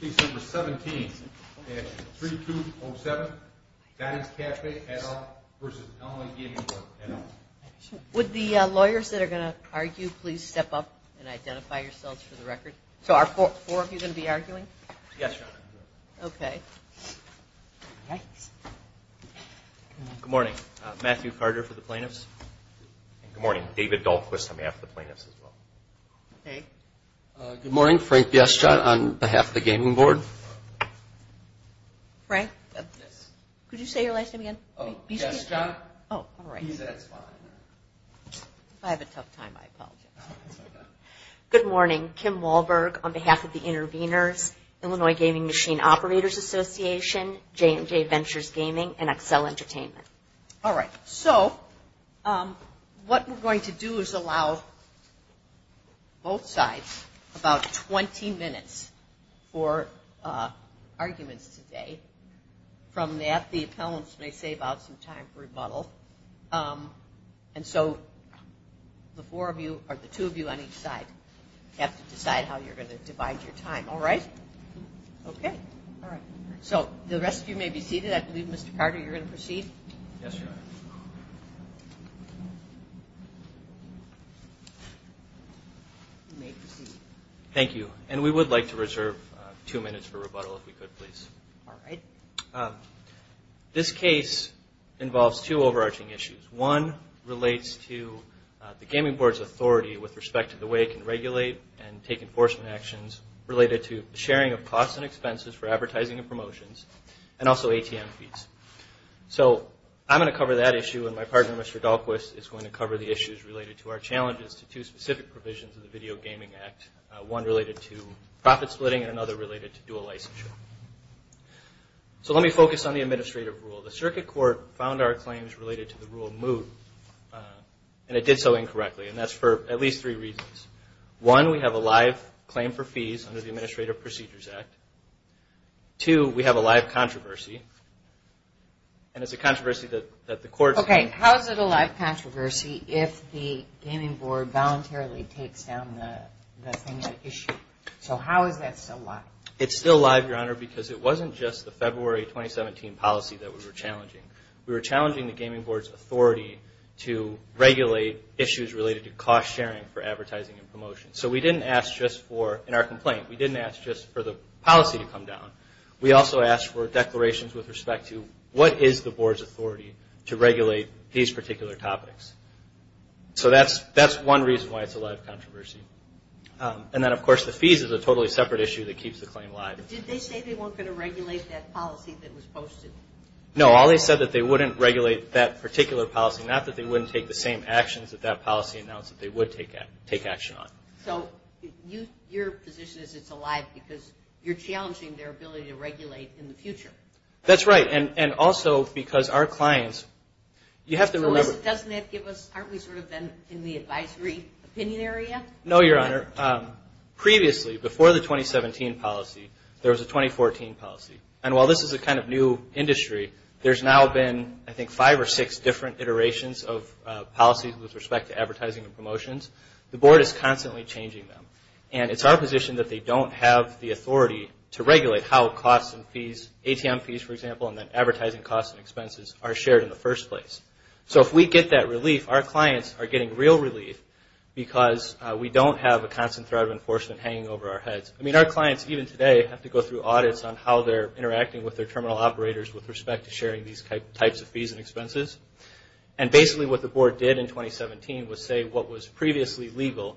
Case No. 17-3207, Doughty's Cafe et al. v. Illinois Gaming Board et al. Would the lawyers that are going to argue please step up and identify yourselves for the record? So are four of you going to be arguing? Yes, Your Honor. Okay. Good morning. Matthew Carter for the plaintiffs. Good morning. David Dahlquist on behalf of the plaintiffs as well. Good morning. Frank Biestjot on behalf of the gaming board. Frank? Yes. Could you say your last name again? Oh, Biestjot. Biestjot. Oh, all right. He said it's fine. I have a tough time. I apologize. Good morning. Kim Wahlberg on behalf of the interveners, Illinois Gaming Machine Operators Association, J&J Ventures Gaming, and Accel Entertainment. All right. So what we're going to do is allow both sides about 20 minutes for arguments today. From that, the appellants may save out some time for rebuttal. And so the two of you on each side have to decide how you're going to divide your time. All right? Okay. All right. So the rest of you may be seated. I believe, Mr. Carter, you're going to proceed. Yes, Your Honor. You may proceed. Thank you. And we would like to reserve two minutes for rebuttal if we could, please. All right. This case involves two overarching issues. One relates to the gaming board's authority with respect to the way it can regulate and take enforcement actions related to sharing of costs and expenses for advertising and promotions, and also ATM fees. So I'm going to cover that issue, and my partner, Mr. Dahlquist, is going to cover the issues related to our challenges to two specific provisions of the Video Gaming Act, one related to profit splitting and another related to dual licensure. So let me focus on the administrative rule. The circuit court found our claims related to the rule moot, and it did so incorrectly, and that's for at least three reasons. One, we have a live claim for fees under the Administrative Procedures Act. Two, we have a live controversy, and it's a controversy that the court found. Okay. How is it a live controversy if the gaming board voluntarily takes down the thing at issue? So how is that still live? It's still live, Your Honor, because it wasn't just the February 2017 policy that we were challenging. We were challenging the gaming board's authority to regulate issues related to cost sharing for advertising and promotions. So we didn't ask just for, in our complaint, we didn't ask just for the policy to come down. We also asked for declarations with respect to what is the board's authority to regulate these particular topics. So that's one reason why it's a live controversy. And then, of course, the fees is a totally separate issue that keeps the claim live. Did they say they weren't going to regulate that policy that was posted? No. All they said that they wouldn't regulate that particular policy, not that they wouldn't take the same actions that that policy announced that they would take action on. So your position is it's alive because you're challenging their ability to regulate in the future. That's right. And also because our clients, you have to remember – So doesn't that give us – aren't we sort of then in the advisory opinion area? No, Your Honor. Previously, before the 2017 policy, there was a 2014 policy. And while this is a kind of new industry, there's now been, I think, five or six different iterations of policies with respect to advertising and promotions. The board is constantly changing them. And it's our position that they don't have the authority to regulate how costs and fees, ATM fees, for example, and then advertising costs and expenses are shared in the first place. So if we get that relief, our clients are getting real relief because we don't have a constant threat of enforcement hanging over our heads. I mean, our clients, even today, have to go through audits on how they're interacting with their terminal operators with respect to sharing these types of fees and expenses. And basically what the board did in 2017 was say what was previously legal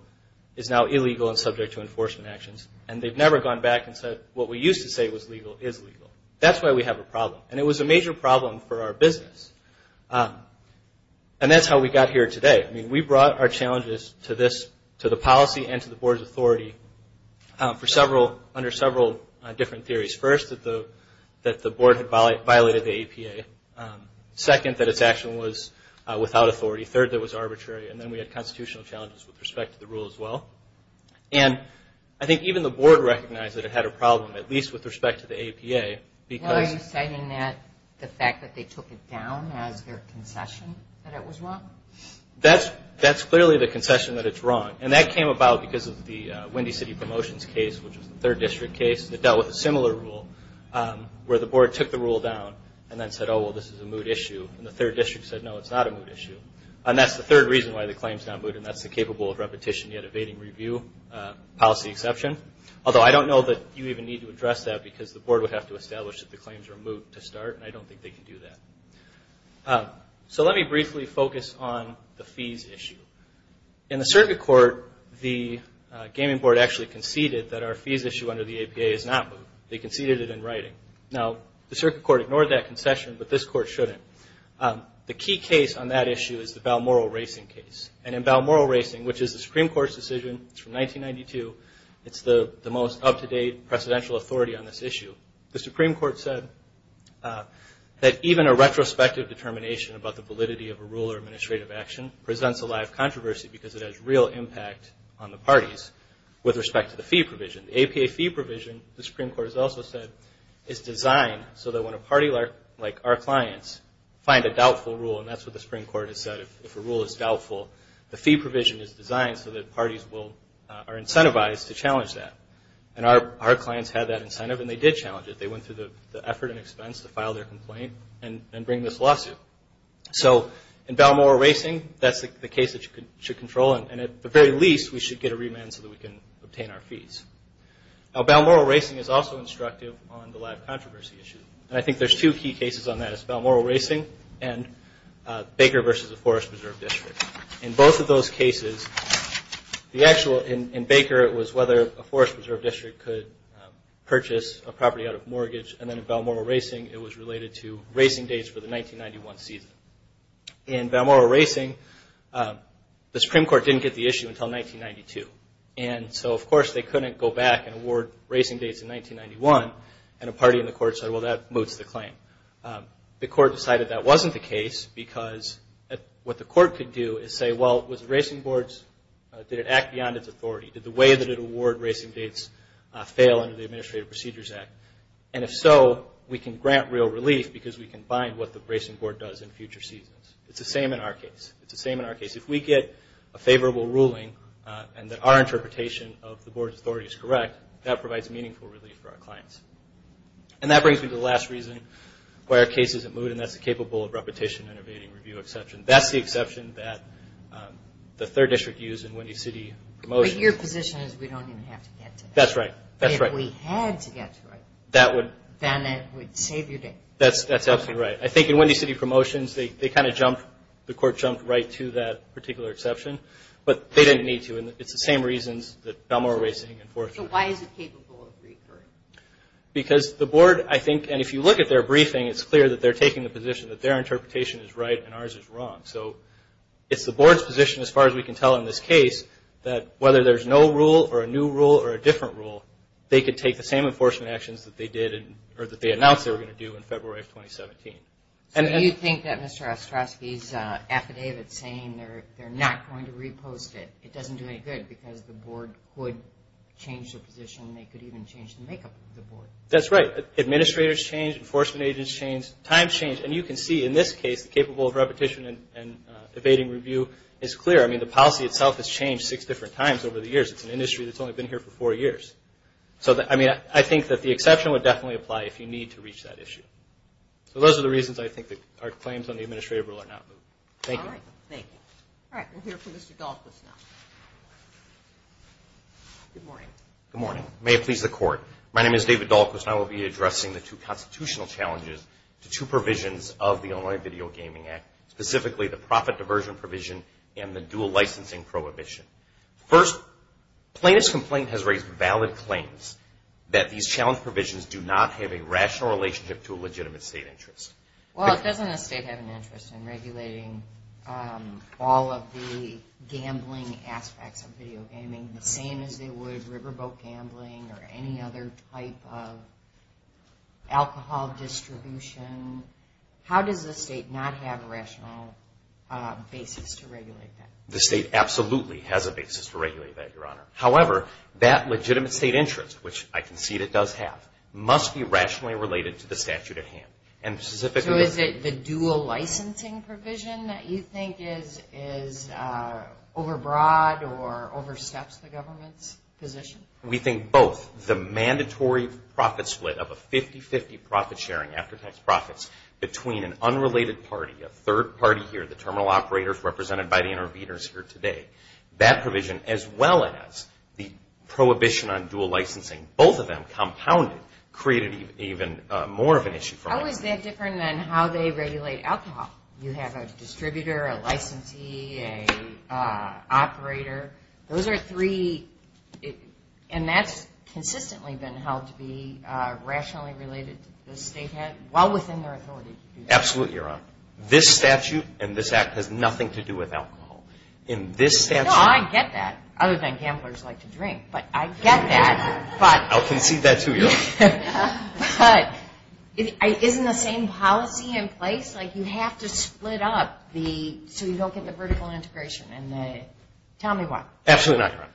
is now illegal and subject to enforcement actions. And they've never gone back and said what we used to say was legal is legal. That's why we have a problem. And it was a major problem for our business. And that's how we got here today. I mean, we brought our challenges to the policy and to the board's authority under several different theories. First, that the board had violated the APA. Second, that its action was without authority. Third, that it was arbitrary. And then we had constitutional challenges with respect to the rule as well. And I think even the board recognized that it had a problem, at least with respect to the APA. Why are you citing that, the fact that they took it down as their concession that it was wrong? That's clearly the concession that it's wrong. And that came about because of the Windy City Promotions case, which was the third district case, that dealt with a similar rule where the board took the rule down and then said, oh, well, this is a moot issue. And the third district said, no, it's not a moot issue. And that's the third reason why the claim is now moot, and that's the capable of repetition yet evading review policy exception. Although I don't know that you even need to address that, because the board would have to establish that the claims are moot to start, and I don't think they can do that. So let me briefly focus on the fees issue. In the circuit court, the gaming board actually conceded that our fees issue under the APA is not moot. They conceded it in writing. Now, the circuit court ignored that concession, but this court shouldn't. The key case on that issue is the Balmoral Racing case. And in Balmoral Racing, which is a Supreme Court's decision, it's from 1992, it's the most up-to-date presidential authority on this issue. The Supreme Court said that even a retrospective determination about the validity of a rule or administrative action presents a live controversy because it has real impact on the parties with respect to the fee provision. The APA fee provision, the Supreme Court has also said, is designed so that when a party like our clients find a doubtful rule, and that's what the Supreme Court has said, if a rule is doubtful, the fee provision is designed so that parties are incentivized to challenge that. And our clients had that incentive, and they did challenge it. They went through the effort and expense to file their complaint and bring this lawsuit. So in Balmoral Racing, that's the case that you should control, and at the very least, we should get a remand so that we can obtain our fees. Now, Balmoral Racing is also instructive on the live controversy issue. And I think there's two key cases on that. It's Balmoral Racing and Baker versus the Forest Preserve District. In both of those cases, in Baker, it was whether a Forest Preserve District could purchase a property out of mortgage, and then in Balmoral Racing, it was related to racing dates for the 1991 season. In Balmoral Racing, the Supreme Court didn't get the issue until 1992. And so, of course, they couldn't go back and award racing dates in 1991, and a party in the court said, well, that moots the claim. The court decided that wasn't the case because what the court could do is say, well, was racing boards, did it act beyond its authority? Did the way that it awarded racing dates fail under the Administrative Procedures Act? And if so, we can grant real relief because we can find what the racing board does in future seasons. It's the same in our case. It's the same in our case. If we get a favorable ruling and that our interpretation of the board's authority is correct, that provides meaningful relief for our clients. And that brings me to the last reason why our case isn't mooted, and that's the capable of repetition and evading review exception. That's the exception that the 3rd District used in Windy City Promotions. But your position is we don't even have to get to that. That's right. But if we had to get to it, then it would save your day. That's absolutely right. I think in Windy City Promotions, the court jumped right to that particular exception, but they didn't need to, and it's the same reasons that Balmoral Racing and Forest Preserve. So why is it capable of recurring? Because the board, I think, and if you look at their briefing, it's clear that they're taking the position that their interpretation is right and ours is wrong. So it's the board's position, as far as we can tell in this case, that whether there's no rule or a new rule or a different rule, they could take the same enforcement actions that they did or that they announced they were going to do in February of 2017. So you think that Mr. Ostrowski's affidavit saying they're not going to repost it, it doesn't do any good because the board could change their position. They could even change the makeup of the board. That's right. Administrators change. Enforcement agents change. Times change. And you can see, in this case, the capable of repetition and evading review is clear. I mean, the policy itself has changed six different times over the years. It's an industry that's only been here for four years. So, I mean, I think that the exception would definitely apply if you need to reach that issue. So those are the reasons, I think, that our claims on the administrative rule are not moved. Thank you. All right. We'll hear from Mr. Dahlquist now. Good morning. Good morning. May it please the Court. My name is David Dahlquist, and I will be addressing the two constitutional challenges to two provisions of the Illinois Video Gaming Act, specifically the profit diversion provision and the dual licensing prohibition. First, plaintiff's complaint has raised valid claims that these challenge provisions do not have a rational relationship to a legitimate state interest. Well, doesn't a state have an interest in regulating all of the gambling aspects of video gaming, the same as they would riverboat gambling or any other type of alcohol distribution? How does the state not have a rational basis to regulate that? The state absolutely has a basis to regulate that, Your Honor. However, that legitimate state interest, which I concede it does have, must be rationally related to the statute at hand. So is it the dual licensing provision that you think is overbroad or oversteps the government's position? We think both. The mandatory profit split of a 50-50 profit sharing after tax profits between an unrelated party, a third party here, the terminal operators represented by the interveners here today, that provision as well as the prohibition on dual licensing, both of them compounded, and created even more of an issue. How is that different than how they regulate alcohol? You have a distributor, a licensee, an operator. Those are three, and that's consistently been held to be rationally related to the state, while within their authority to do that. Absolutely, Your Honor. This statute and this act has nothing to do with alcohol. No, I get that, other than gamblers like to drink, but I get that. I'll concede that to you. But isn't the same policy in place? Like you have to split up so you don't get the vertical integration. Tell me why. Absolutely not, Your Honor.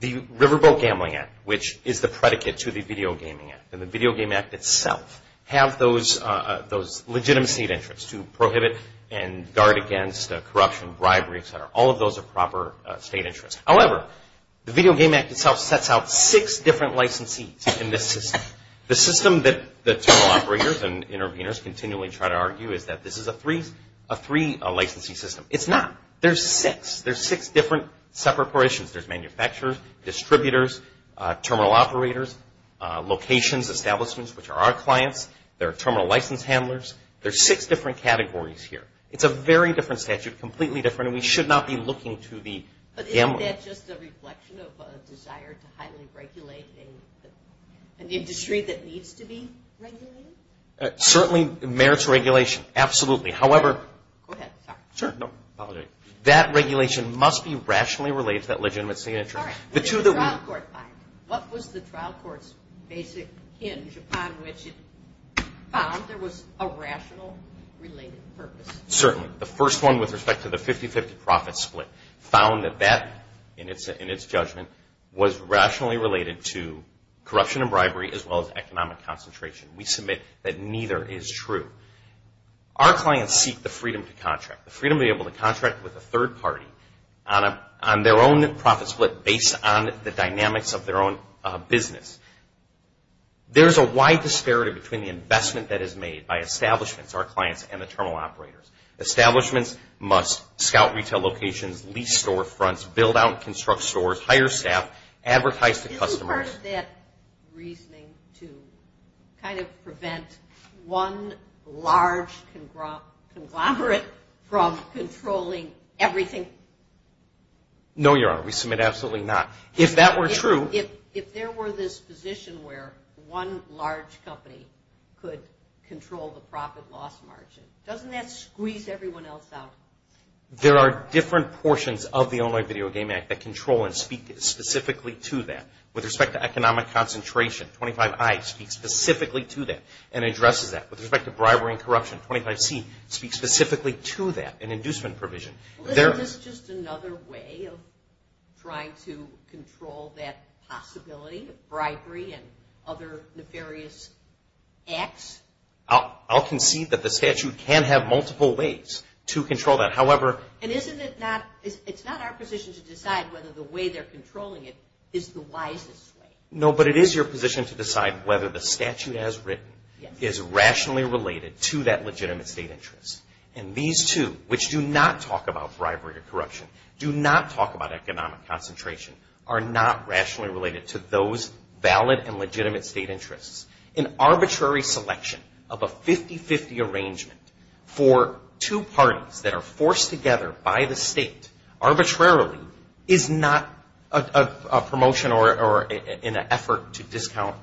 The Riverboat Gambling Act, which is the predicate to the Video Gaming Act, and the Video Gaming Act itself have those legitimacy of interest to prohibit and guard against corruption, bribery, et cetera. All of those are proper state interests. However, the Video Gaming Act itself sets out six different licensees in this system. The system that the terminal operators and interveners continually try to argue is that this is a three-licensee system. It's not. There's six. There's six different separate positions. There's manufacturers, distributors, terminal operators, locations, establishments, which are our clients. There are terminal license handlers. There's six different categories here. It's a very different statute, completely different, and we should not be looking to the gamblers. Isn't that just a reflection of a desire to highly regulate an industry that needs to be regulated? Certainly merits regulation. Absolutely. However, that regulation must be rationally related to that legitimacy of interest. What was the trial court's basic hinge upon which it found there was a rational related purpose? Certainly. The first one with respect to the 50-50 profit split found that that, in its judgment, was rationally related to corruption and bribery as well as economic concentration. We submit that neither is true. Our clients seek the freedom to contract, the freedom to be able to contract with a third party on their own profit split based on the dynamics of their own business. There's a wide disparity between the investment that is made by establishments, our clients, and the terminal operators. Establishments must scout retail locations, lease storefronts, build out and construct stores, hire staff, advertise to customers. Isn't part of that reasoning to kind of prevent one large conglomerate from controlling everything? No, Your Honor. We submit absolutely not. If that were true... Doesn't that squeeze everyone else out? There are different portions of the Illinois Video Game Act that control and speak specifically to that. With respect to economic concentration, 25I speaks specifically to that and addresses that. With respect to bribery and corruption, 25C speaks specifically to that, an inducement provision. Isn't this just another way of trying to control that possibility of bribery and other nefarious acts? I'll concede that the statute can have multiple ways to control that. However... And isn't it not... It's not our position to decide whether the way they're controlling it is the wisest way. No, but it is your position to decide whether the statute as written is rationally related to that legitimate state interest. And these two, which do not talk about bribery or corruption, do not talk about economic concentration, are not rationally related to those valid and legitimate state interests. An arbitrary selection of a 50-50 arrangement for two parties that are forced together by the state arbitrarily is not a promotion or an effort to discount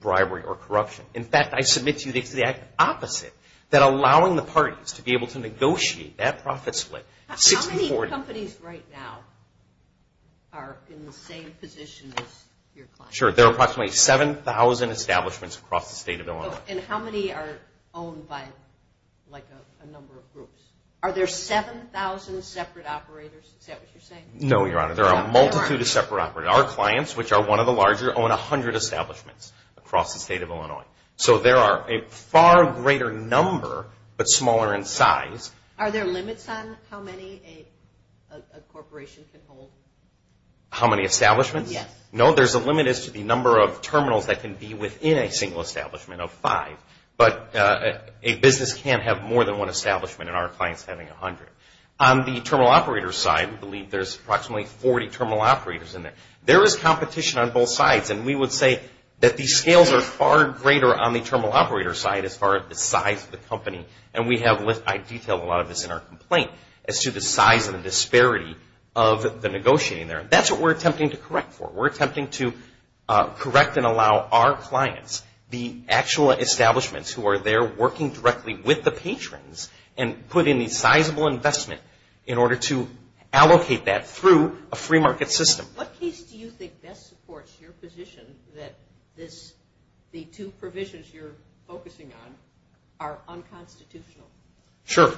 bribery or corruption. In fact, I submit to you it's the opposite, that allowing the parties to be able to negotiate that profit split. How many companies right now are in the same position as your client? There are approximately 7,000 establishments across the state of Illinois. And how many are owned by a number of groups? Are there 7,000 separate operators? Is that what you're saying? No, Your Honor. There are a multitude of separate operators. Our clients, which are one of the larger, own 100 establishments across the state of Illinois. So there are a far greater number, but smaller in size. Are there limits on how many a corporation can hold? How many establishments? Yes. No, there's a limit as to the number of terminals that can be within a single establishment of five. But a business can't have more than one establishment, and our client's having 100. On the terminal operator side, we believe there's approximately 40 terminal operators in there. There is competition on both sides, and we would say that these scales are far greater on the terminal operator side as far as the size of the company. And we have, I detail a lot of this in our complaint, as to the size and the disparity of the negotiating there. That's what we're attempting to correct for. We're attempting to correct and allow our clients, the actual establishments who are there working directly with the patrons, and put in a sizable investment in order to allocate that through a free market system. What case do you think best supports your position that the two provisions you're focusing on are unconstitutional? Sure.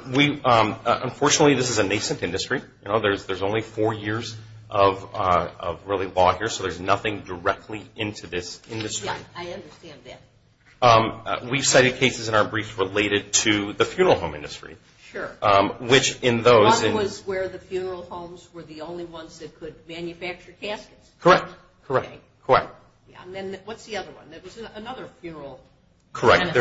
Unfortunately, this is a nascent industry. You know, there's only four years of really law here, so there's nothing directly into this industry. Yeah, I understand that. We've cited cases in our brief related to the funeral home industry. Sure. Which in those... One was where the funeral homes were the only ones that could manufacture caskets. Correct. Correct. Correct. And then what's the other one? There was another funeral... Correct.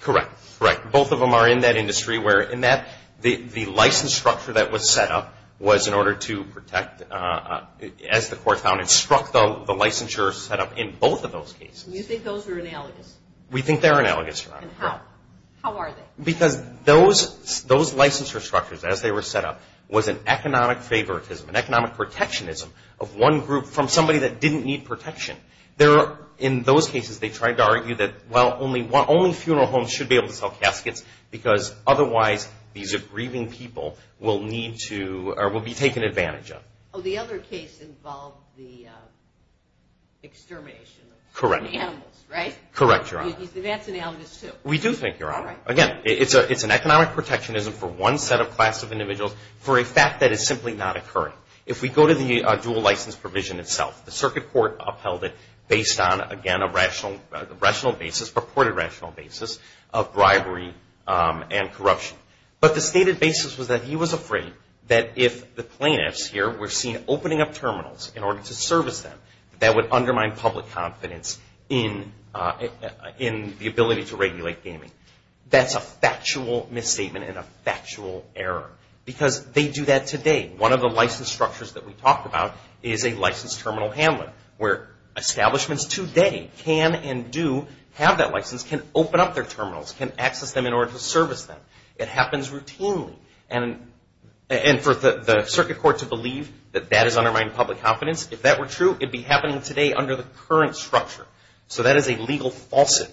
Correct. Correct. Both of them are in that industry where, in that, the license structure that was set up was in order to protect, as the court found it, struck the licensure setup in both of those cases. You think those are analogous? We think they're analogous, Your Honor. And how? How are they? Because those licensure structures, as they were set up, was an economic favoritism, an economic protectionism of one group from somebody that didn't need protection. In those cases, they tried to argue that, well, only funeral homes should be able to sell caskets because otherwise these grieving people will need to or will be taken advantage of. Oh, the other case involved the extermination of animals, right? Correct. Correct, Your Honor. That's analogous, too. We do think, Your Honor. Again, it's an economic protectionism for one set of class of individuals for a fact that it's simply not occurring. If we go to the dual license provision itself, the circuit court upheld it based on, again, a rational basis, purported rational basis of bribery and corruption. But the stated basis was that he was afraid that if the plaintiffs here were seen opening up terminals in order to service them, that that would undermine public confidence in the ability to regulate gaming. That's a factual misstatement and a factual error because they do that today. One of the license structures that we talked about is a licensed terminal handler where establishments today can and do have that license, can open up their terminals, can access them in order to service them. It happens routinely. And for the circuit court to believe that that has undermined public confidence, if that were true, it would be happening today under the current structure. So that is a legal falsity.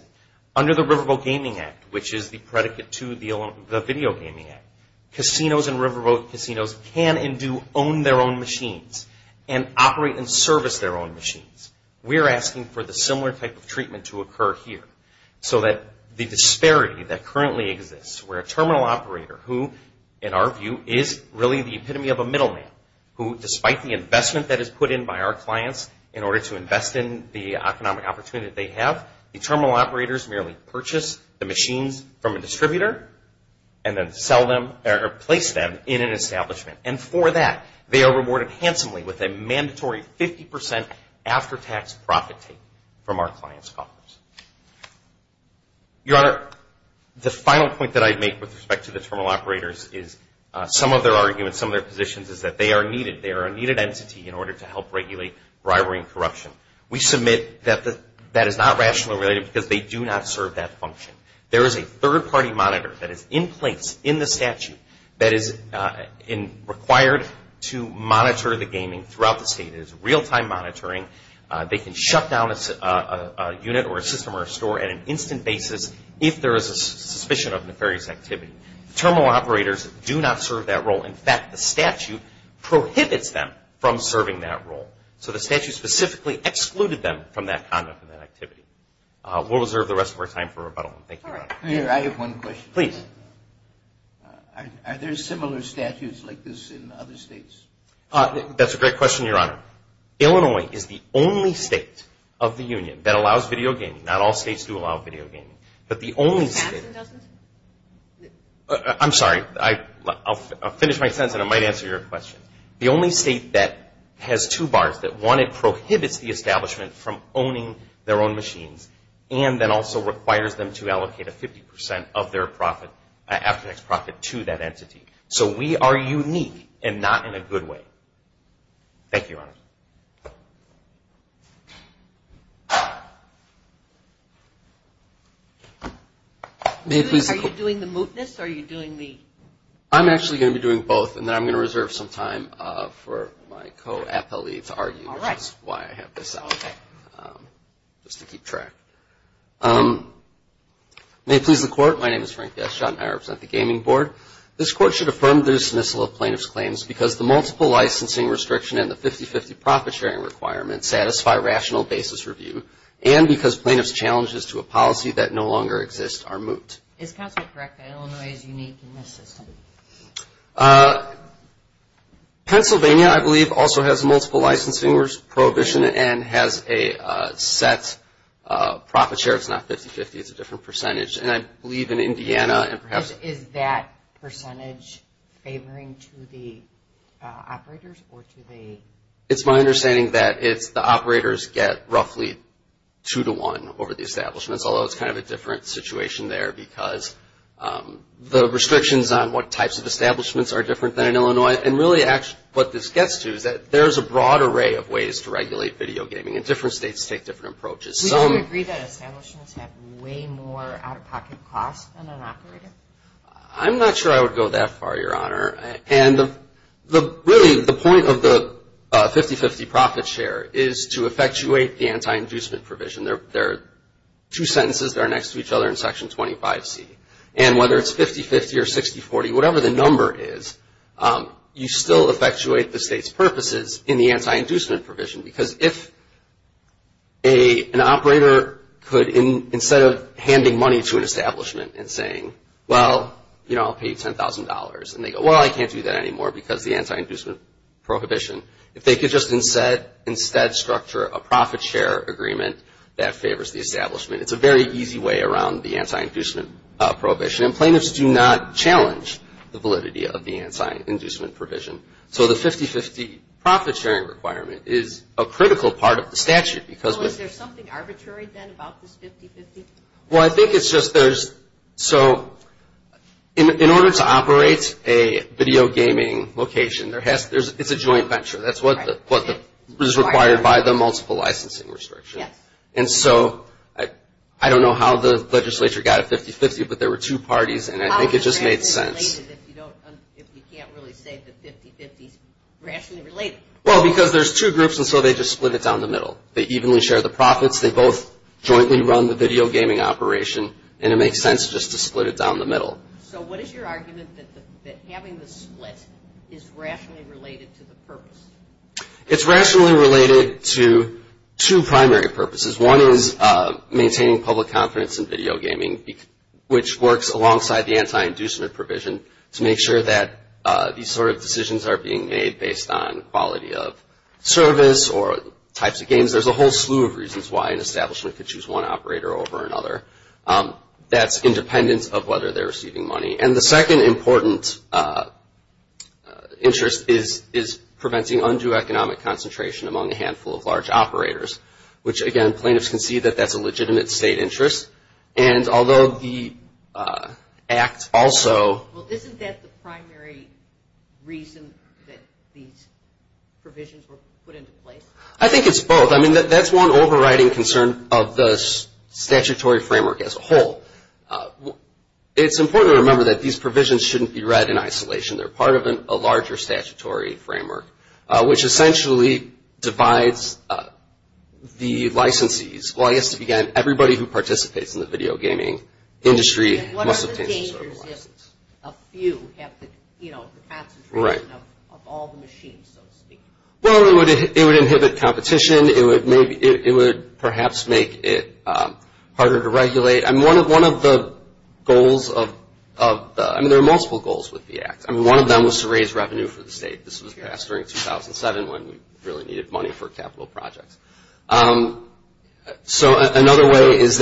Under the Riverboat Gaming Act, which is the predicate to the Video Gaming Act, casinos and riverboat casinos can and do own their own machines and operate and service their own machines. We're asking for the similar type of treatment to occur here so that the disparity that currently exists where a terminal operator who, in our view, is really the epitome of a middleman, who despite the investment that is put in by our clients in order to invest in the economic opportunity that they have, the terminal operators merely purchase the machines from a distributor and then sell them or place them in an establishment. And for that, they are rewarded handsomely with a mandatory 50% after-tax profit take from our clients' coffers. Your Honor, the final point that I'd make with respect to the terminal operators is some of their arguments, some of their positions is that they are needed. They are a needed entity in order to help regulate bribery and corruption. We submit that that is not rationally related because they do not serve that function. There is a third-party monitor that is in place in the statute that is required to monitor the gaming throughout the state. It is real-time monitoring. They can shut down a unit or a system or a store at an instant basis if there is a suspicion of nefarious activity. Terminal operators do not serve that role. In fact, the statute prohibits them from serving that role. So the statute specifically excluded them from that conduct and that activity. We'll reserve the rest of our time for rebuttal. Thank you, Your Honor. All right. Here, I have one question. Please. Are there similar statutes like this in other states? That's a great question, Your Honor. Illinois is the only state of the union that allows video gaming. Not all states do allow video gaming. But the only state... The statute doesn't? I'm sorry. I'll finish my sentence and I might answer your question. The only state that has two bars, that one, it prohibits the establishment from owning their own machines and then also requires them to allocate a 50% of their after-tax profit to that entity. So we are unique and not in a good way. Thank you, Your Honor. Are you doing the mootness or are you doing the... I'm actually going to be doing both and then I'm going to reserve some time for my co-appellee to argue which is why I have this out just to keep track. May it please the Court. My name is Frank Gashot and I represent the Gaming Board. This Court should affirm the dismissal of plaintiff's claims because the multiple licensing restriction and the 50-50 profit sharing requirements satisfy rational basis review Is counsel correct that Illinois is unique in this system? Pennsylvania, I believe, also has multiple licensing prohibition and has a set profit share. It's not 50-50. It's a different percentage. And I believe in Indiana and perhaps... Is that percentage favoring to the operators or to the... It's my understanding that it's the operators get roughly two to one over the establishments, although it's kind of a different situation there because the restrictions on what types of establishments are different than in Illinois and really what this gets to is that there's a broad array of ways to regulate video gaming and different states take different approaches. Would you agree that establishments have way more out-of-pocket costs than an operator? I'm not sure I would go that far, Your Honor. And really the point of the 50-50 profit share is to effectuate the anti-inducement provision. There are two sentences that are next to each other in Section 25C. And whether it's 50-50 or 60-40, whatever the number is, you still effectuate the state's purposes in the anti-inducement provision because if an operator could, instead of handing money to an establishment and saying, well, you know, I'll pay you $10,000, and they go, well, I can't do that anymore because the anti-inducement prohibition, if they could just instead structure a profit share agreement that favors the establishment. It's a very easy way around the anti-inducement prohibition. And plaintiffs do not challenge the validity of the anti-inducement provision. So the 50-50 profit sharing requirement is a critical part of the statute. So is there something arbitrary then about this 50-50? Well, I think it's just there's so in order to operate a video gaming location, it's a joint venture. That's what is required by the multiple licensing restriction. And so I don't know how the legislature got a 50-50, but there were two parties, and I think it just made sense. How is it rationally related if you can't really say the 50-50 is rationally related? Well, because there's two groups, and so they just split it down the middle. They evenly share the profits. They both jointly run the video gaming operation, and it makes sense just to split it down the middle. So what is your argument that having the split is rationally related to the purpose? It's rationally related to two primary purposes. One is maintaining public confidence in video gaming, which works alongside the anti-inducement provision to make sure that these sort of decisions are being made based on quality of service or types of games. There's a whole slew of reasons why an establishment could choose one operator over another. That's independent of whether they're receiving money. And the second important interest is preventing undue economic concentration among a handful of large operators, which, again, plaintiffs can see that that's a legitimate state interest. And although the Act also... Well, isn't that the primary reason that these provisions were put into place? I think it's both. I mean, that's one overriding concern of the statutory framework as a whole. It's important to remember that these provisions shouldn't be read in isolation. They're part of a larger statutory framework, which essentially divides the licensees. Well, I guess, again, everybody who participates in the video gaming industry... What are the dangers if a few have the concentration of all the machines, so to speak? Well, it would inhibit competition. It would perhaps make it harder to regulate. I mean, one of the goals of the... I mean, there are multiple goals with the Act. I mean, one of them was to raise revenue for the state. This was passed during 2007 when we really needed money for capital projects. So another way is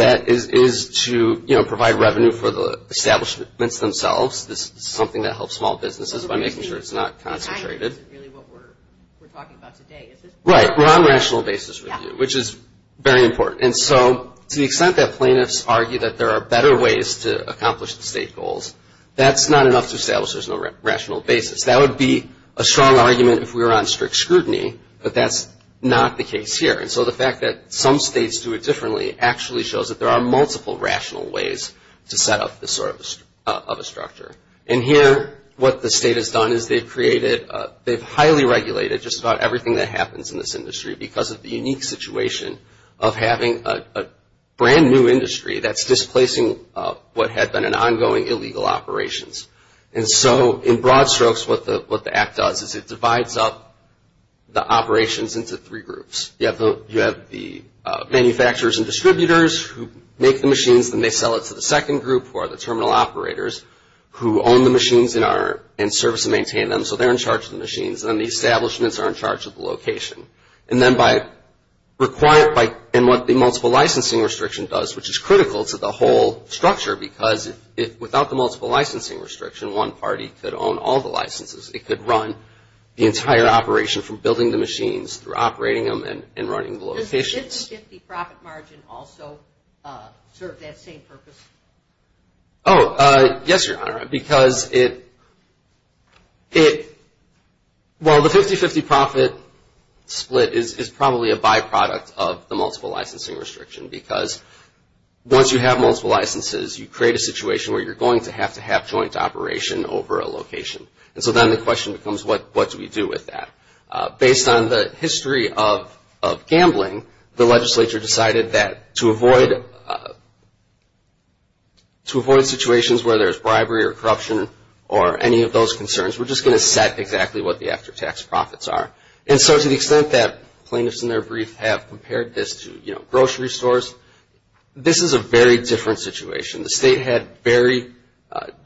to provide revenue for the establishments themselves. This is something that helps small businesses by making sure it's not concentrated. This isn't really what we're talking about today. Right. We're on a rational basis with you, which is very important. And so to the extent that plaintiffs argue that there are better ways to accomplish the state goals, that's not enough to establish there's no rational basis. That would be a strong argument if we were on strict scrutiny, but that's not the case here. And so the fact that some states do it differently actually shows that there are multiple rational ways to set up this sort of a structure. And here what the state has done is they've created... they've highly regulated just about everything that happens in this industry because of the unique situation of having a brand new industry that's displacing what had been an ongoing illegal operations. And so in broad strokes what the Act does is it divides up the operations into three groups. You have the manufacturers and distributors who make the machines, then they sell it to the second group who are the terminal operators who own the machines and service and maintain them. So they're in charge of the machines. And then the establishments are in charge of the location. And then by requiring... and what the multiple licensing restriction does, which is critical to the whole structure, because without the multiple licensing restriction, one party could own all the licenses. It could run the entire operation from building the machines through operating them and running the locations. Does the 50-50 profit margin also serve that same purpose? Oh, yes, Your Honor, because it... well, the 50-50 profit split is probably a byproduct of the multiple licensing restriction because once you have multiple licenses, you create a situation where you're going to have to have joint operation over a location. And so then the question becomes, what do we do with that? Based on the history of gambling, the legislature decided that to avoid situations where there's bribery or corruption or any of those concerns, we're just going to set exactly what the after-tax profits are. And so to the extent that plaintiffs in their brief have compared this to, you know, grocery stores, this is a very different situation. The state had very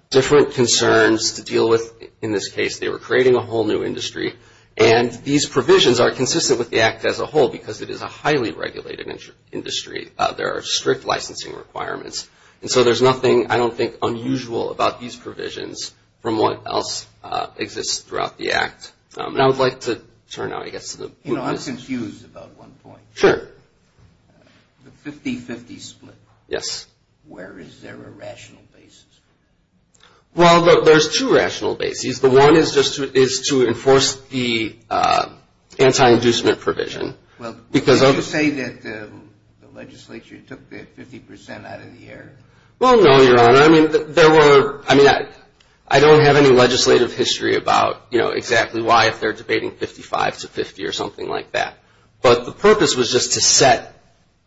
different concerns to deal with in this case. They were creating a whole new industry. And these provisions are consistent with the Act as a whole because it is a highly regulated industry. There are strict licensing requirements. And so there's nothing, I don't think, unusual about these provisions from what else exists throughout the Act. And I would like to turn now, I guess, to the... You know, I'm confused about one point. Sure. The 50-50 split. Yes. Where is there a rational basis? Well, there's two rational bases. The one is just to enforce the anti-inducement provision. Well, would you say that the legislature took the 50% out of the air? Well, no, Your Honor. I mean, there were, I mean, I don't have any legislative history about, you know, exactly why if they're debating 55 to 50 or something like that. But the purpose was just to set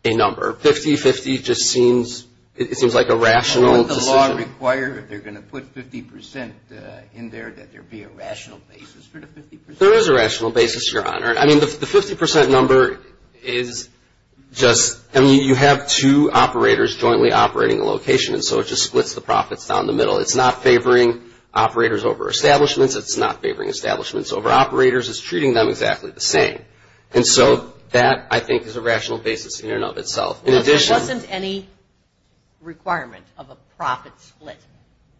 a number. 50-50 just seems, it seems like a rational decision. Does it require, if they're going to put 50% in there, that there be a rational basis for the 50%? There is a rational basis, Your Honor. I mean, the 50% number is just, I mean, you have two operators jointly operating a location, and so it just splits the profits down the middle. It's not favoring operators over establishments. It's not favoring establishments over operators. It's treating them exactly the same. And so that, I think, is a rational basis in and of itself. Well, if there wasn't any requirement of a profit split,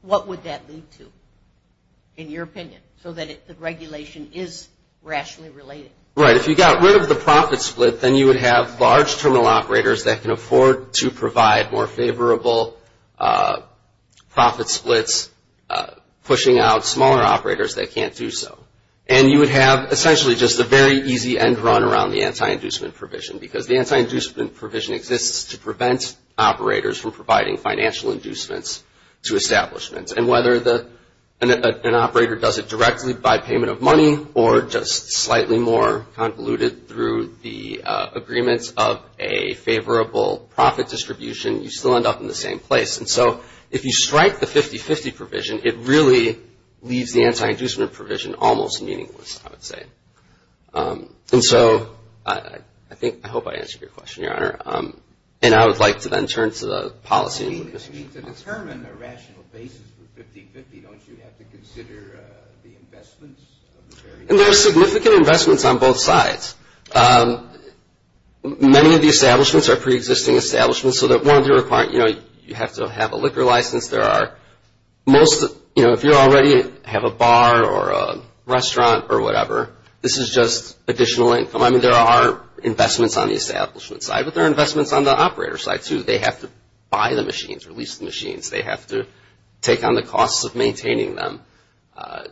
what would that lead to, in your opinion, so that the regulation is rationally related? Right. If you got rid of the profit split, then you would have large terminal operators that can afford to provide more favorable profit splits, pushing out smaller operators that can't do so. And you would have essentially just a very easy end run around the anti-inducement provision, because the anti-inducement provision exists to prevent operators from providing financial inducements to establishments. And whether an operator does it directly by payment of money or just slightly more convoluted through the agreements of a favorable profit distribution, you still end up in the same place. And so if you strike the 50-50 provision, it really leaves the anti-inducement provision almost meaningless, I would say. And so I hope I answered your question, Your Honor. And I would like to then turn to the policy. If you need to determine a rational basis for 50-50, don't you have to consider the investments? And there are significant investments on both sides. Many of the establishments are pre-existing establishments, so you have to have a liquor license. If you already have a bar or a restaurant or whatever, this is just additional income. I mean, there are investments on the establishment side, but there are investments on the operator side, too. They have to buy the machines or lease the machines. They have to take on the costs of maintaining them.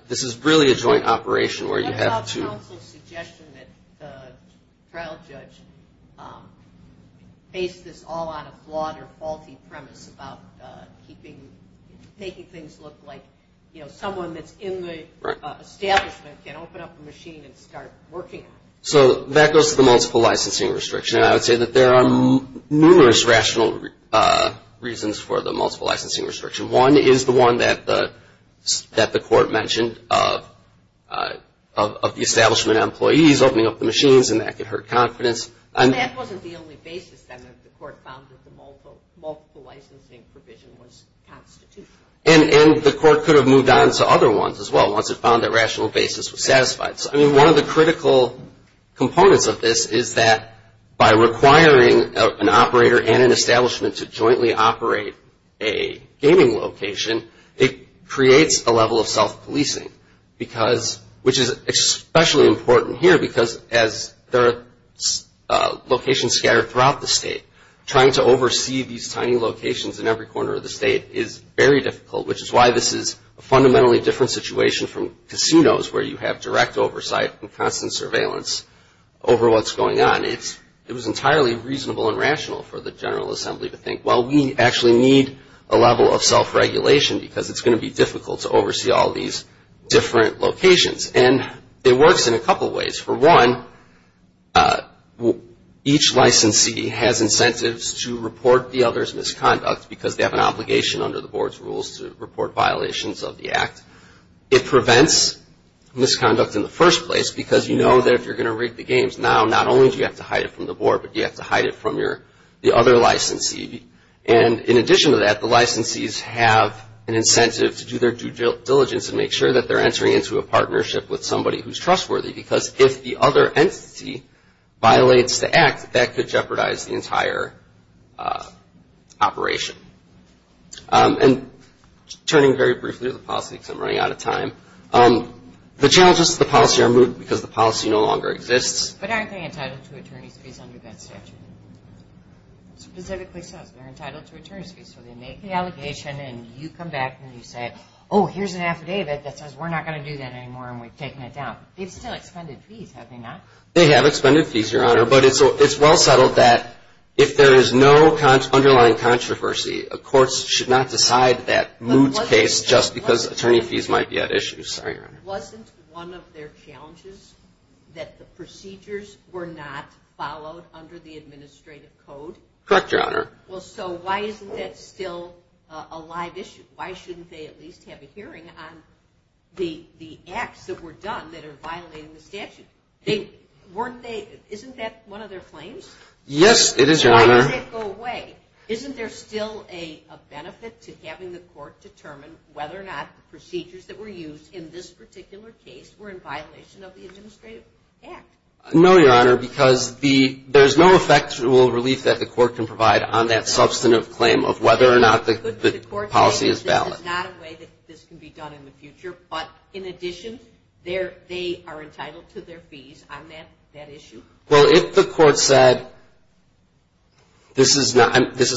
This is really a joint operation where you have to – What about the counsel's suggestion that the trial judge face this all on a flawed or faulty premise about keeping – making things look like, you know, someone that's in the establishment can open up a machine and start working on it? So that goes to the multiple licensing restriction, and I would say that there are numerous rational reasons for the multiple licensing restriction. One is the one that the court mentioned of the establishment employees opening up the machines and that could hurt confidence. That wasn't the only basis, then, that the court found that the multiple licensing provision was constitutional. And the court could have moved on to other ones as well, once it found that rational basis was satisfied. I mean, one of the critical components of this is that by requiring an operator and an establishment to jointly operate a gaming location, it creates a level of self-policing, which is especially important here because there are locations scattered throughout the state. Trying to oversee these tiny locations in every corner of the state is very difficult, which is why this is a fundamentally different situation from casinos where you have direct oversight and constant surveillance over what's going on. It was entirely reasonable and rational for the General Assembly to think, well, we actually need a level of self-regulation because it's going to be difficult to oversee all these different locations. And it works in a couple ways. For one, each licensee has incentives to report the other's misconduct because they have an obligation under the board's rules to report violations of the act. It prevents misconduct in the first place because you know that if you're going to rig the games, now not only do you have to hide it from the board, but you have to hide it from the other licensee. And in addition to that, the licensees have an incentive to do their due diligence and make sure that they're entering into a partnership with somebody who's trustworthy because if the other entity violates the act, that could jeopardize the entire operation. And turning very briefly to the policy because I'm running out of time, the challenges to the policy are removed because the policy no longer exists. But aren't they entitled to attorney's fees under that statute? It specifically says they're entitled to attorney's fees, so they make the allegation and you come back and you say, oh, here's an affidavit that says we're not going to do that anymore and we've taken it down. They've still expended fees, have they not? They have expended fees, Your Honor, but it's well settled that if there is no underlying controversy, courts should not decide that moot case just because attorney fees might be at issue. Wasn't one of their challenges that the procedures were not followed under the administrative code? Correct, Your Honor. Well, so why isn't that still a live issue? Why shouldn't they at least have a hearing on the acts that were done that are violating the statute? Isn't that one of their claims? Yes, it is, Your Honor. Why does it go away? Isn't there still a benefit to having the court determine whether or not the procedures that were used in this particular case were in violation of the administrative act? No, Your Honor, because there's no effectual relief that the court can provide on that substantive claim of whether or not the policy is valid. The court says this is not a way that this can be done in the future, but in addition, they are entitled to their fees on that issue? Well, if the court said this is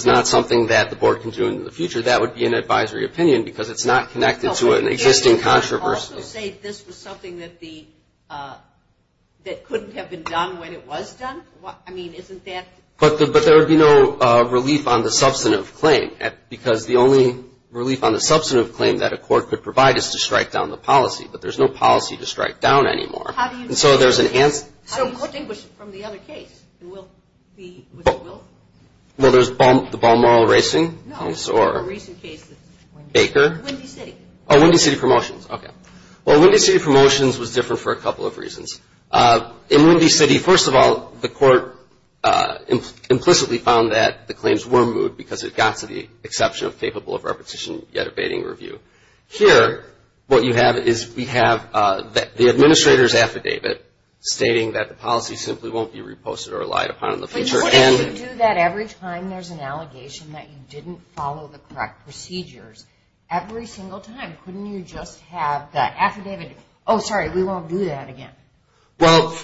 not something that the board can do in the future, that would be an advisory opinion because it's not connected to an existing controversy. Also say this was something that couldn't have been done when it was done? I mean, isn't that? But there would be no relief on the substantive claim, because the only relief on the substantive claim that a court could provide is to strike down the policy, but there's no policy to strike down anymore. How do you distinguish it from the other case? Well, there's the Balmoral Racing case or Baker? Windy City. Oh, Windy City Promotions, okay. Well, Windy City Promotions was different for a couple of reasons. In Windy City, first of all, the court implicitly found that the claims were removed because it got to the exception of capable of repetition yet abating review. Here, what you have is we have the administrator's affidavit stating that the policy simply won't be reposted or relied upon in the future. But if you do that every time there's an allegation that you didn't follow the correct procedures, every single time, couldn't you just have the affidavit, oh, sorry, we won't do that again? Well,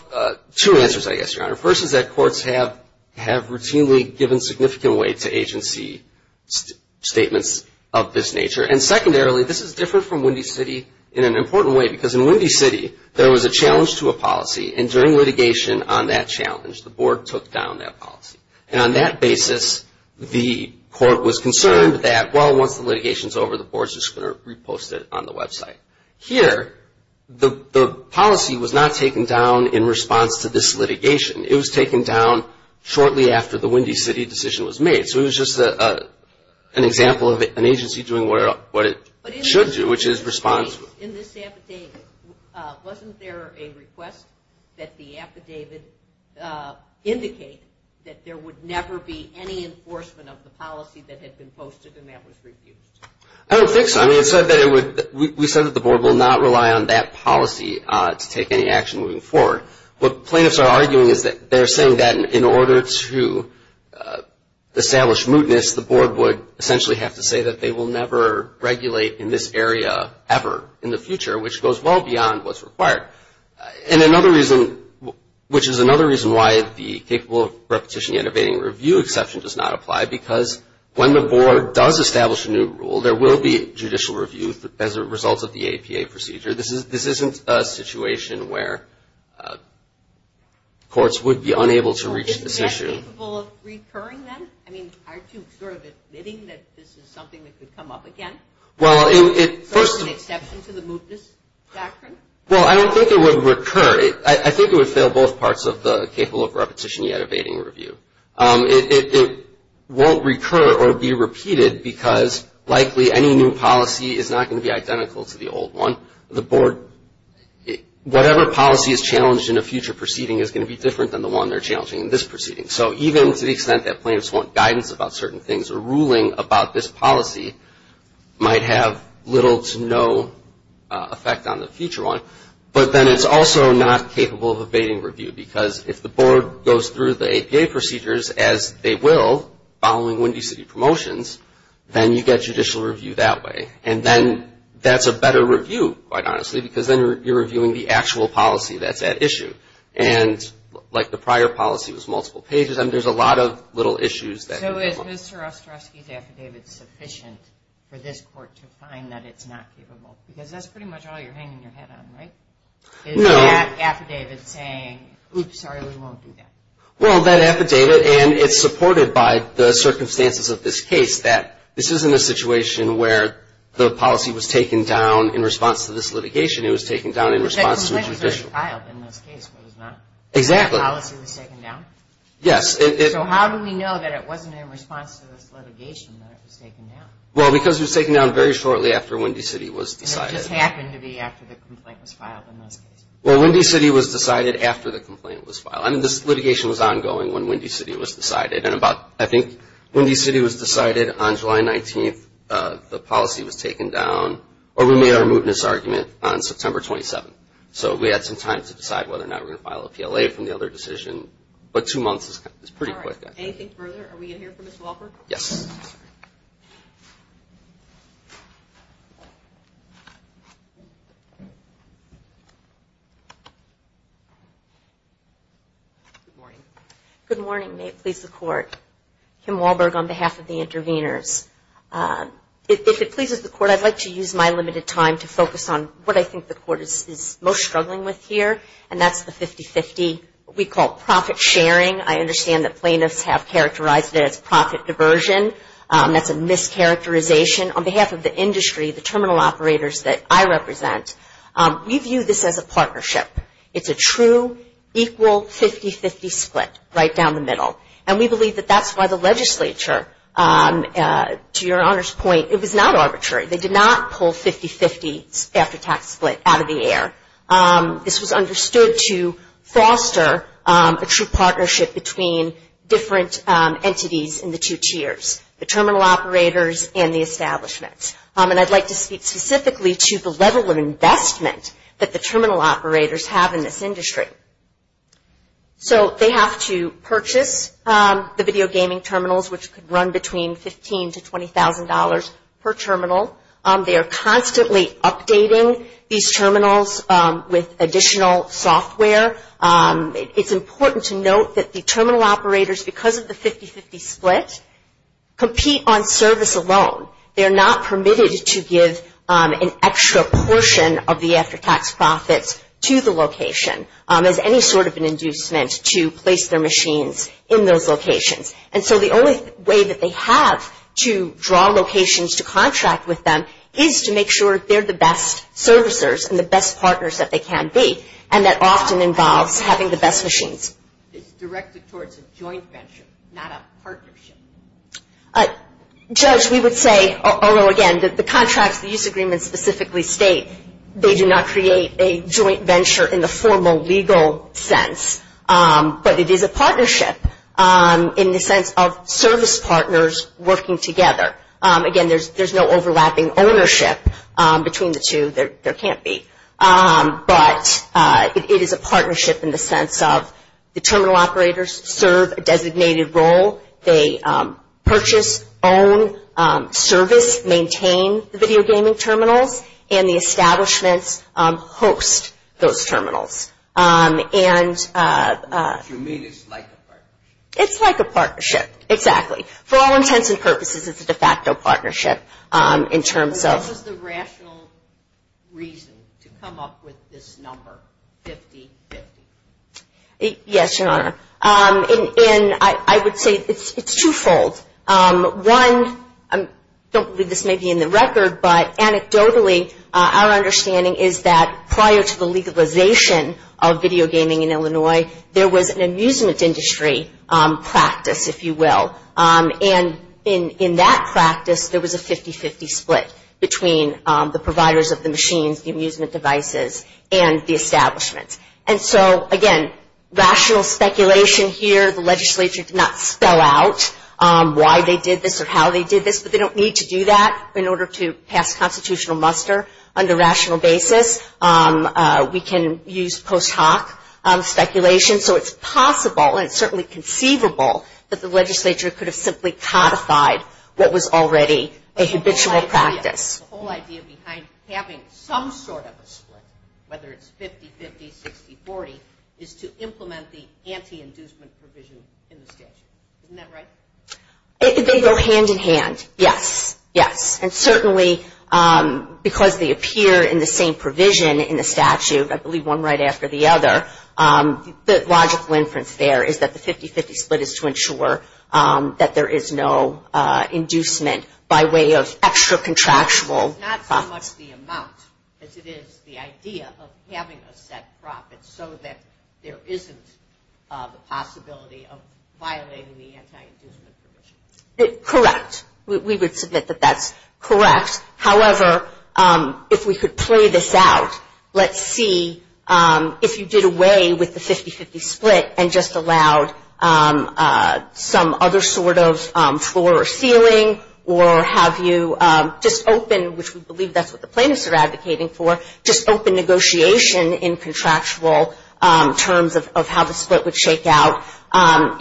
two answers, I guess, Your Honor. First is that courts have routinely given significant weight to agency statements of this nature, and secondarily, this is different from Windy City in an important way because in Windy City, there was a challenge to a policy, and during litigation on that challenge, the board took down that policy. And on that basis, the court was concerned that, well, once the litigation's over, the board's just going to repost it on the website. Here, the policy was not taken down in response to this litigation. It was taken down shortly after the Windy City decision was made. So it was just an example of an agency doing what it should do, which is respond. In this affidavit, wasn't there a request that the affidavit indicate that there would never be any enforcement of the policy that had been posted and that was refused? I don't think so. I mean, we said that the board will not rely on that policy to take any action moving forward. What plaintiffs are arguing is that they're saying that in order to establish mootness, the board would essentially have to say that they will never regulate in this area ever in the future, which goes well beyond what's required. And another reason, which is another reason why the capable of repetition, innovating review exception does not apply, because when the board does establish a new rule, there will be judicial review as a result of the APA procedure. This isn't a situation where courts would be unable to reach this issue. Is it capable of recurring then? I mean, aren't you sort of admitting that this is something that could come up again? Well, it first. Is there an exception to the mootness doctrine? Well, I don't think it would recur. I think it would fail both parts of the capable of repetition, yet evading review. It won't recur or be repeated because likely any new policy is not going to be identical to the old one. The board, whatever policy is challenged in a future proceeding is going to be different than the one they're challenging in this proceeding. So even to the extent that plaintiffs want guidance about certain things, a ruling about this policy might have little to no effect on the future one. But then it's also not capable of evading review because if the board goes through the APA procedures as they will, following Windy City Promotions, then you get judicial review that way. And then that's a better review, quite honestly, because then you're reviewing the actual policy that's at issue. And like the prior policy was multiple pages. I mean, there's a lot of little issues that could come up. So is Mr. Ostrowski's affidavit sufficient for this court to find that it's not capable? Because that's pretty much all you're hanging your head on, right? Is that affidavit saying, oops, sorry, we won't do that? Well, that affidavit, and it's supported by the circumstances of this case, that this isn't a situation where the policy was taken down in response to this litigation. It was taken down in response to judicial review. It was filed in this case, but the policy was taken down? Yes. So how do we know that it wasn't in response to this litigation that it was taken down? Well, because it was taken down very shortly after Windy City was decided. It just happened to be after the complaint was filed in this case. Well, Windy City was decided after the complaint was filed. I mean, this litigation was ongoing when Windy City was decided. And I think Windy City was decided on July 19th. The policy was taken down, or we made our mootness argument on September 27th. So we had some time to decide whether or not we were going to file a PLA from the other decision. But two months is pretty quick. All right. Anything further? Are we going to hear from Ms. Wahlberg? Yes. Good morning. Good morning. May it please the Court. Kim Wahlberg on behalf of the interveners. If it pleases the Court, I'd like to use my limited time to focus on what I think the Court is most struggling with here, and that's the 50-50, what we call profit sharing. I understand that plaintiffs have characterized it as profit diversion. That's a mischaracterization. On behalf of the industry, the terminal operators that I represent, we view this as a partnership. It's a true equal 50-50 split right down the middle. And we believe that that's why the legislature, to Your Honor's point, it was not arbitrary. They did not pull 50-50 after tax split out of the air. This was understood to foster a true partnership between different entities in the two tiers, the terminal operators and the establishments. And I'd like to speak specifically to the level of investment that the terminal operators have in this industry. So they have to purchase the video gaming terminals, which could run between $15,000 to $20,000 per terminal. They are constantly updating these terminals with additional software. It's important to note that the terminal operators, because of the 50-50 split, compete on service alone. They are not permitted to give an extra portion of the after tax profits to the location. There's any sort of an inducement to place their machines in those locations. And so the only way that they have to draw locations to contract with them is to make sure they're the best servicers and the best partners that they can be, and that often involves having the best machines. It's directed towards a joint venture, not a partnership. Judge, we would say, although again, the contracts, the use agreements specifically state, they do not create a joint venture in the formal legal sense. But it is a partnership in the sense of service partners working together. Again, there's no overlapping ownership between the two. There can't be. But it is a partnership in the sense of the terminal operators serve a designated role. They purchase, own, service, maintain the video gaming terminals, and the establishments host those terminals. And... You mean it's like a partnership. It's like a partnership, exactly. For all intents and purposes, it's a de facto partnership in terms of... What is the rational reason to come up with this number, 50-50? Yes, Your Honor. And I would say it's twofold. One, I don't believe this may be in the record, but anecdotally, our understanding is that prior to the legalization of video gaming in Illinois, there was an amusement industry practice, if you will. And in that practice, there was a 50-50 split between the providers of the machines, the amusement devices, and the establishments. And so, again, rational speculation here. The legislature did not spell out why they did this or how they did this, but they don't need to do that in order to pass constitutional muster. On the rational basis, we can use post hoc speculation. So it's possible, and it's certainly conceivable, that the legislature could have simply codified what was already a habitual practice. The whole idea behind having some sort of a split, whether it's 50-50, 60-40, is to implement the anti-inducement provision in the statute. Isn't that right? They go hand-in-hand, yes, yes. And certainly, because they appear in the same provision in the statute, I believe one right after the other, the logical inference there is that the 50-50 split is to ensure that there is no inducement by way of extra contractual profits. It's not so much the amount as it is the idea of having a set profit so that there isn't the possibility of violating the anti-inducement provision. Correct. We would submit that that's correct. However, if we could play this out, let's see if you did away with the 50-50 split and just allowed some other sort of floor or ceiling, or have you just opened, which we believe that's what the plaintiffs are advocating for, just opened negotiation in contractual terms of how the split would shake out.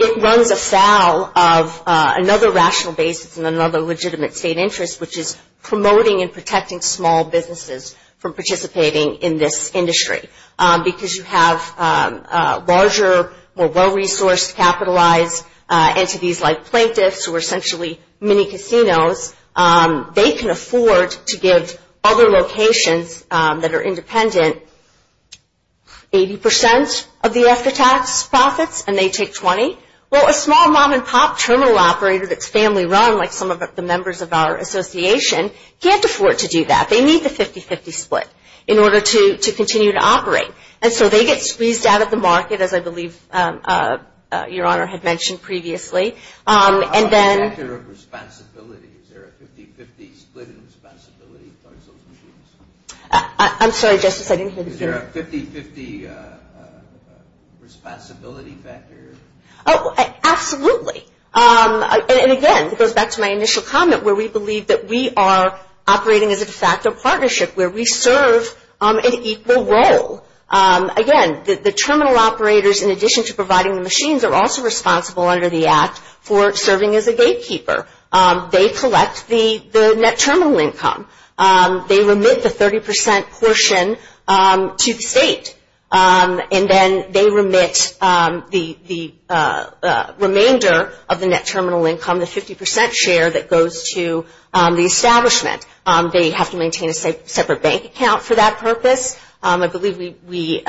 It runs afoul of another rational basis and another legitimate state interest, which is promoting and protecting small businesses from participating in this industry. Because you have larger, more well-resourced, capitalized entities like plaintiffs who are essentially mini-casinos, they can afford to give other locations that are independent 80% of the extra tax profits, and they take 20. Well, a small mom-and-pop terminal operator that's family-run, like some of the members of our association, can't afford to do that. They need the 50-50 split in order to continue to operate. And so they get squeezed out of the market, as I believe Your Honor had mentioned previously. How about the factor of responsibility? Is there a 50-50 split in responsibility towards those machines? I'm sorry, Justice, I didn't hear the question. Is there a 50-50 responsibility factor? Oh, absolutely. And again, it goes back to my initial comment, where we believe that we are operating as a de facto partnership, where we serve an equal role. Again, the terminal operators, in addition to providing the machines, are also responsible under the Act for serving as a gatekeeper. They collect the net terminal income. They remit the 30% portion to the state. And then they remit the remainder of the net terminal income, the 50% share, that goes to the establishment. They have to maintain a separate bank account for that purpose. I believe we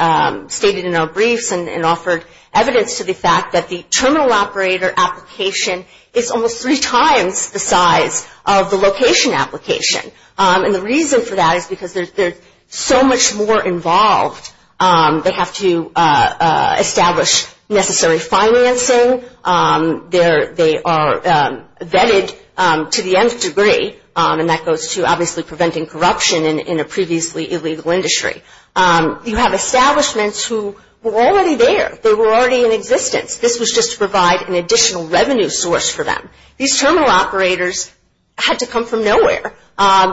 stated in our briefs and offered evidence to the fact that the terminal operator application is almost three times the size of the location application. And the reason for that is because they're so much more involved. They have to establish necessary financing. They are vetted to the nth degree, and that goes to, obviously, preventing corruption in a previously illegal industry. You have establishments who were already there. They were already in existence. This was just to provide an additional revenue source for them. These terminal operators had to come from nowhere,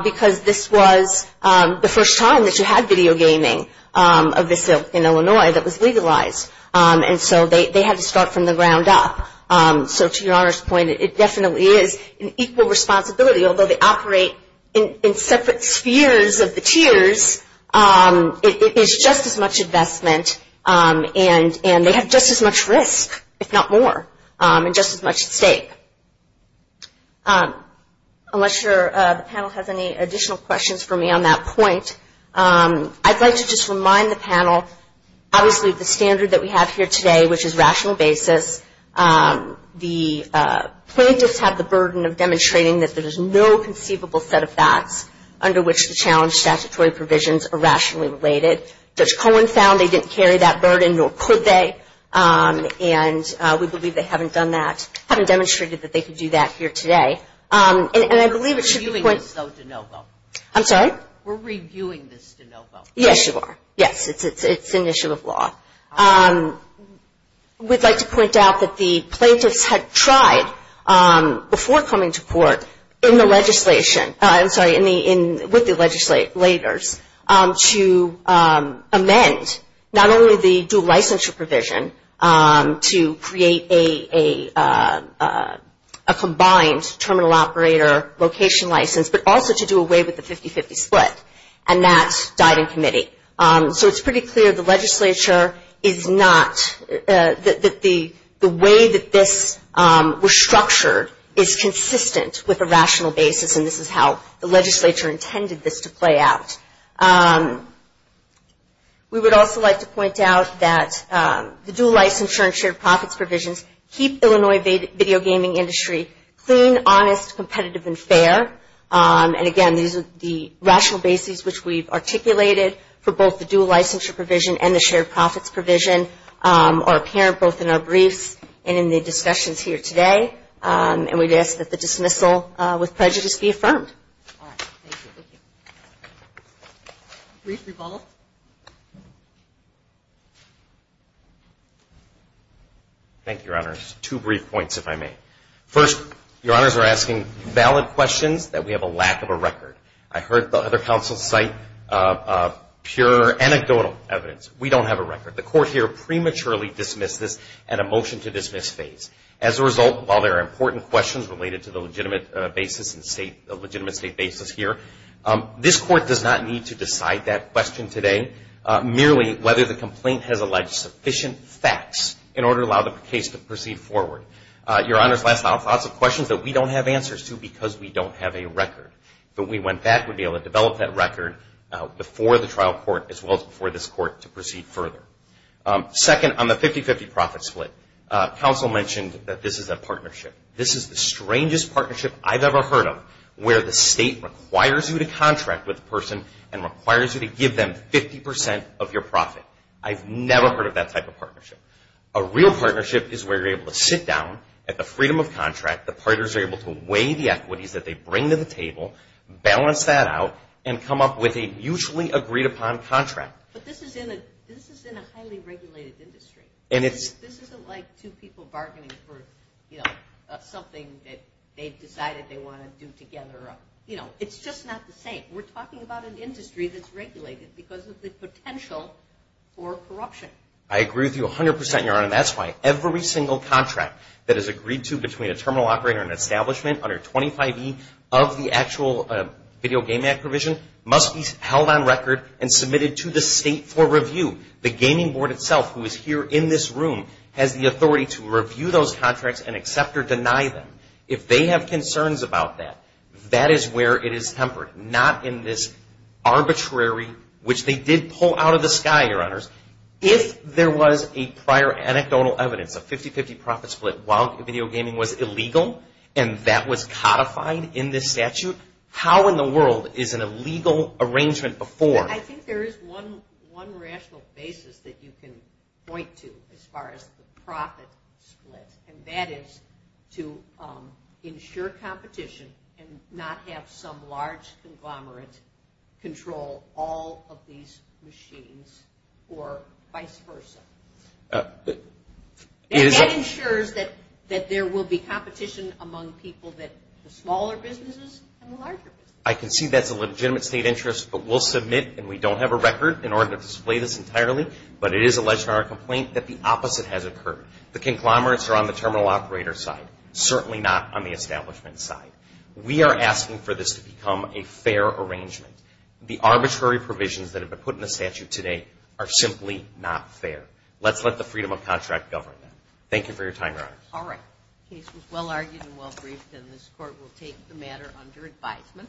because this was the first time that you had video gaming in Illinois that was legalized. And so they had to start from the ground up. So to your Honor's point, it definitely is an equal responsibility. Although they operate in separate spheres of the tiers, it is just as much investment, and they have just as much risk, if not more, and just as much at stake. Unless the panel has any additional questions for me on that point, I'd like to just remind the panel, obviously, the standard that we have here today, which is rational basis. The plaintiffs have the burden of demonstrating that there is no conceivable set of facts under which the challenge statutory provisions are rationally related. Judge Cohen found they didn't carry that burden, nor could they. And we believe they haven't done that, haven't demonstrated that they could do that here today. We're reviewing this, though, DeNovo. I'm sorry? We're reviewing this, DeNovo. Yes, you are. Yes, it's an issue of law. We'd like to point out that the plaintiffs had tried, before coming to court, in the legislation, I'm sorry, with the legislators, to amend not only the dual licensure provision to create a combined terminal operator location license, but also to do away with the 50-50 split, and that died in committee. So it's pretty clear the legislature is not, that the way that this was structured is consistent with a rational basis, and this is how the legislature intended this to play out. We would also like to point out that the dual licensure and shared profits provisions keep the Illinois video gaming industry clean, honest, competitive, and fair. And, again, these are the rational bases which we've articulated for both the dual licensure provision and the shared profits provision are apparent both in our briefs and in the discussions here today. And we'd ask that the dismissal with prejudice be affirmed. Brief rebuttal. Thank you, Your Honors. Two brief points, if I may. First, Your Honors are asking valid questions that we have a lack of a record. I heard the other counsel cite pure anecdotal evidence. We don't have a record. The court here prematurely dismissed this at a motion-to-dismiss phase. As a result, while there are important questions related to the legitimate state basis here, this court does not need to decide that question today, merely whether the complaint has alleged sufficient facts in order to allow the case to proceed forward. Your Honors, lots of questions that we don't have answers to because we don't have a record. But we went back to be able to develop that record before the trial court as well as before this court to proceed further. Second, on the 50-50 profit split, counsel mentioned that this is a partnership. This is the strangest partnership I've ever heard of where the state requires you to contract with a person and requires you to give them 50 percent of your profit. I've never heard of that type of partnership. A real partnership is where you're able to sit down at the freedom of contract, the partners are able to weigh the equities that they bring to the table, balance that out, and come up with a mutually agreed-upon contract. But this is in a highly regulated industry. This isn't like two people bargaining for something that they've decided they want to do together. It's just not the same. We're talking about an industry that's regulated because of the potential for corruption. I agree with you 100 percent, Your Honor, and that's why every single contract that is agreed to between a terminal operator and an establishment under 25E of the actual Video Game Act provision must be held on record and submitted to the state for review. The gaming board itself, who is here in this room, has the authority to review those contracts and accept or deny them. If they have concerns about that, that is where it is tempered. Not in this arbitrary, which they did pull out of the sky, Your Honors. If there was a prior anecdotal evidence, a 50-50 profit split while video gaming was illegal and that was codified in this statute, how in the world is an illegal arrangement afforded? I think there is one rational basis that you can point to as far as the profit split, and that is to ensure competition and not have some large conglomerate control all of these machines or vice versa. That ensures that there will be competition among people, the smaller businesses and the larger businesses. I concede that's a legitimate state interest, but we'll submit, and we don't have a record in order to display this entirely, but it is alleged in our complaint that the opposite has occurred. The conglomerates are on the terminal operator's side, certainly not on the establishment's side. We are asking for this to become a fair arrangement. The arbitrary provisions that have been put in the statute today are simply not fair. Let's let the freedom of contract govern that. Thank you for your time, Your Honors. All right. The case was well-argued and well-briefed, and this Court will take the matter under advisement.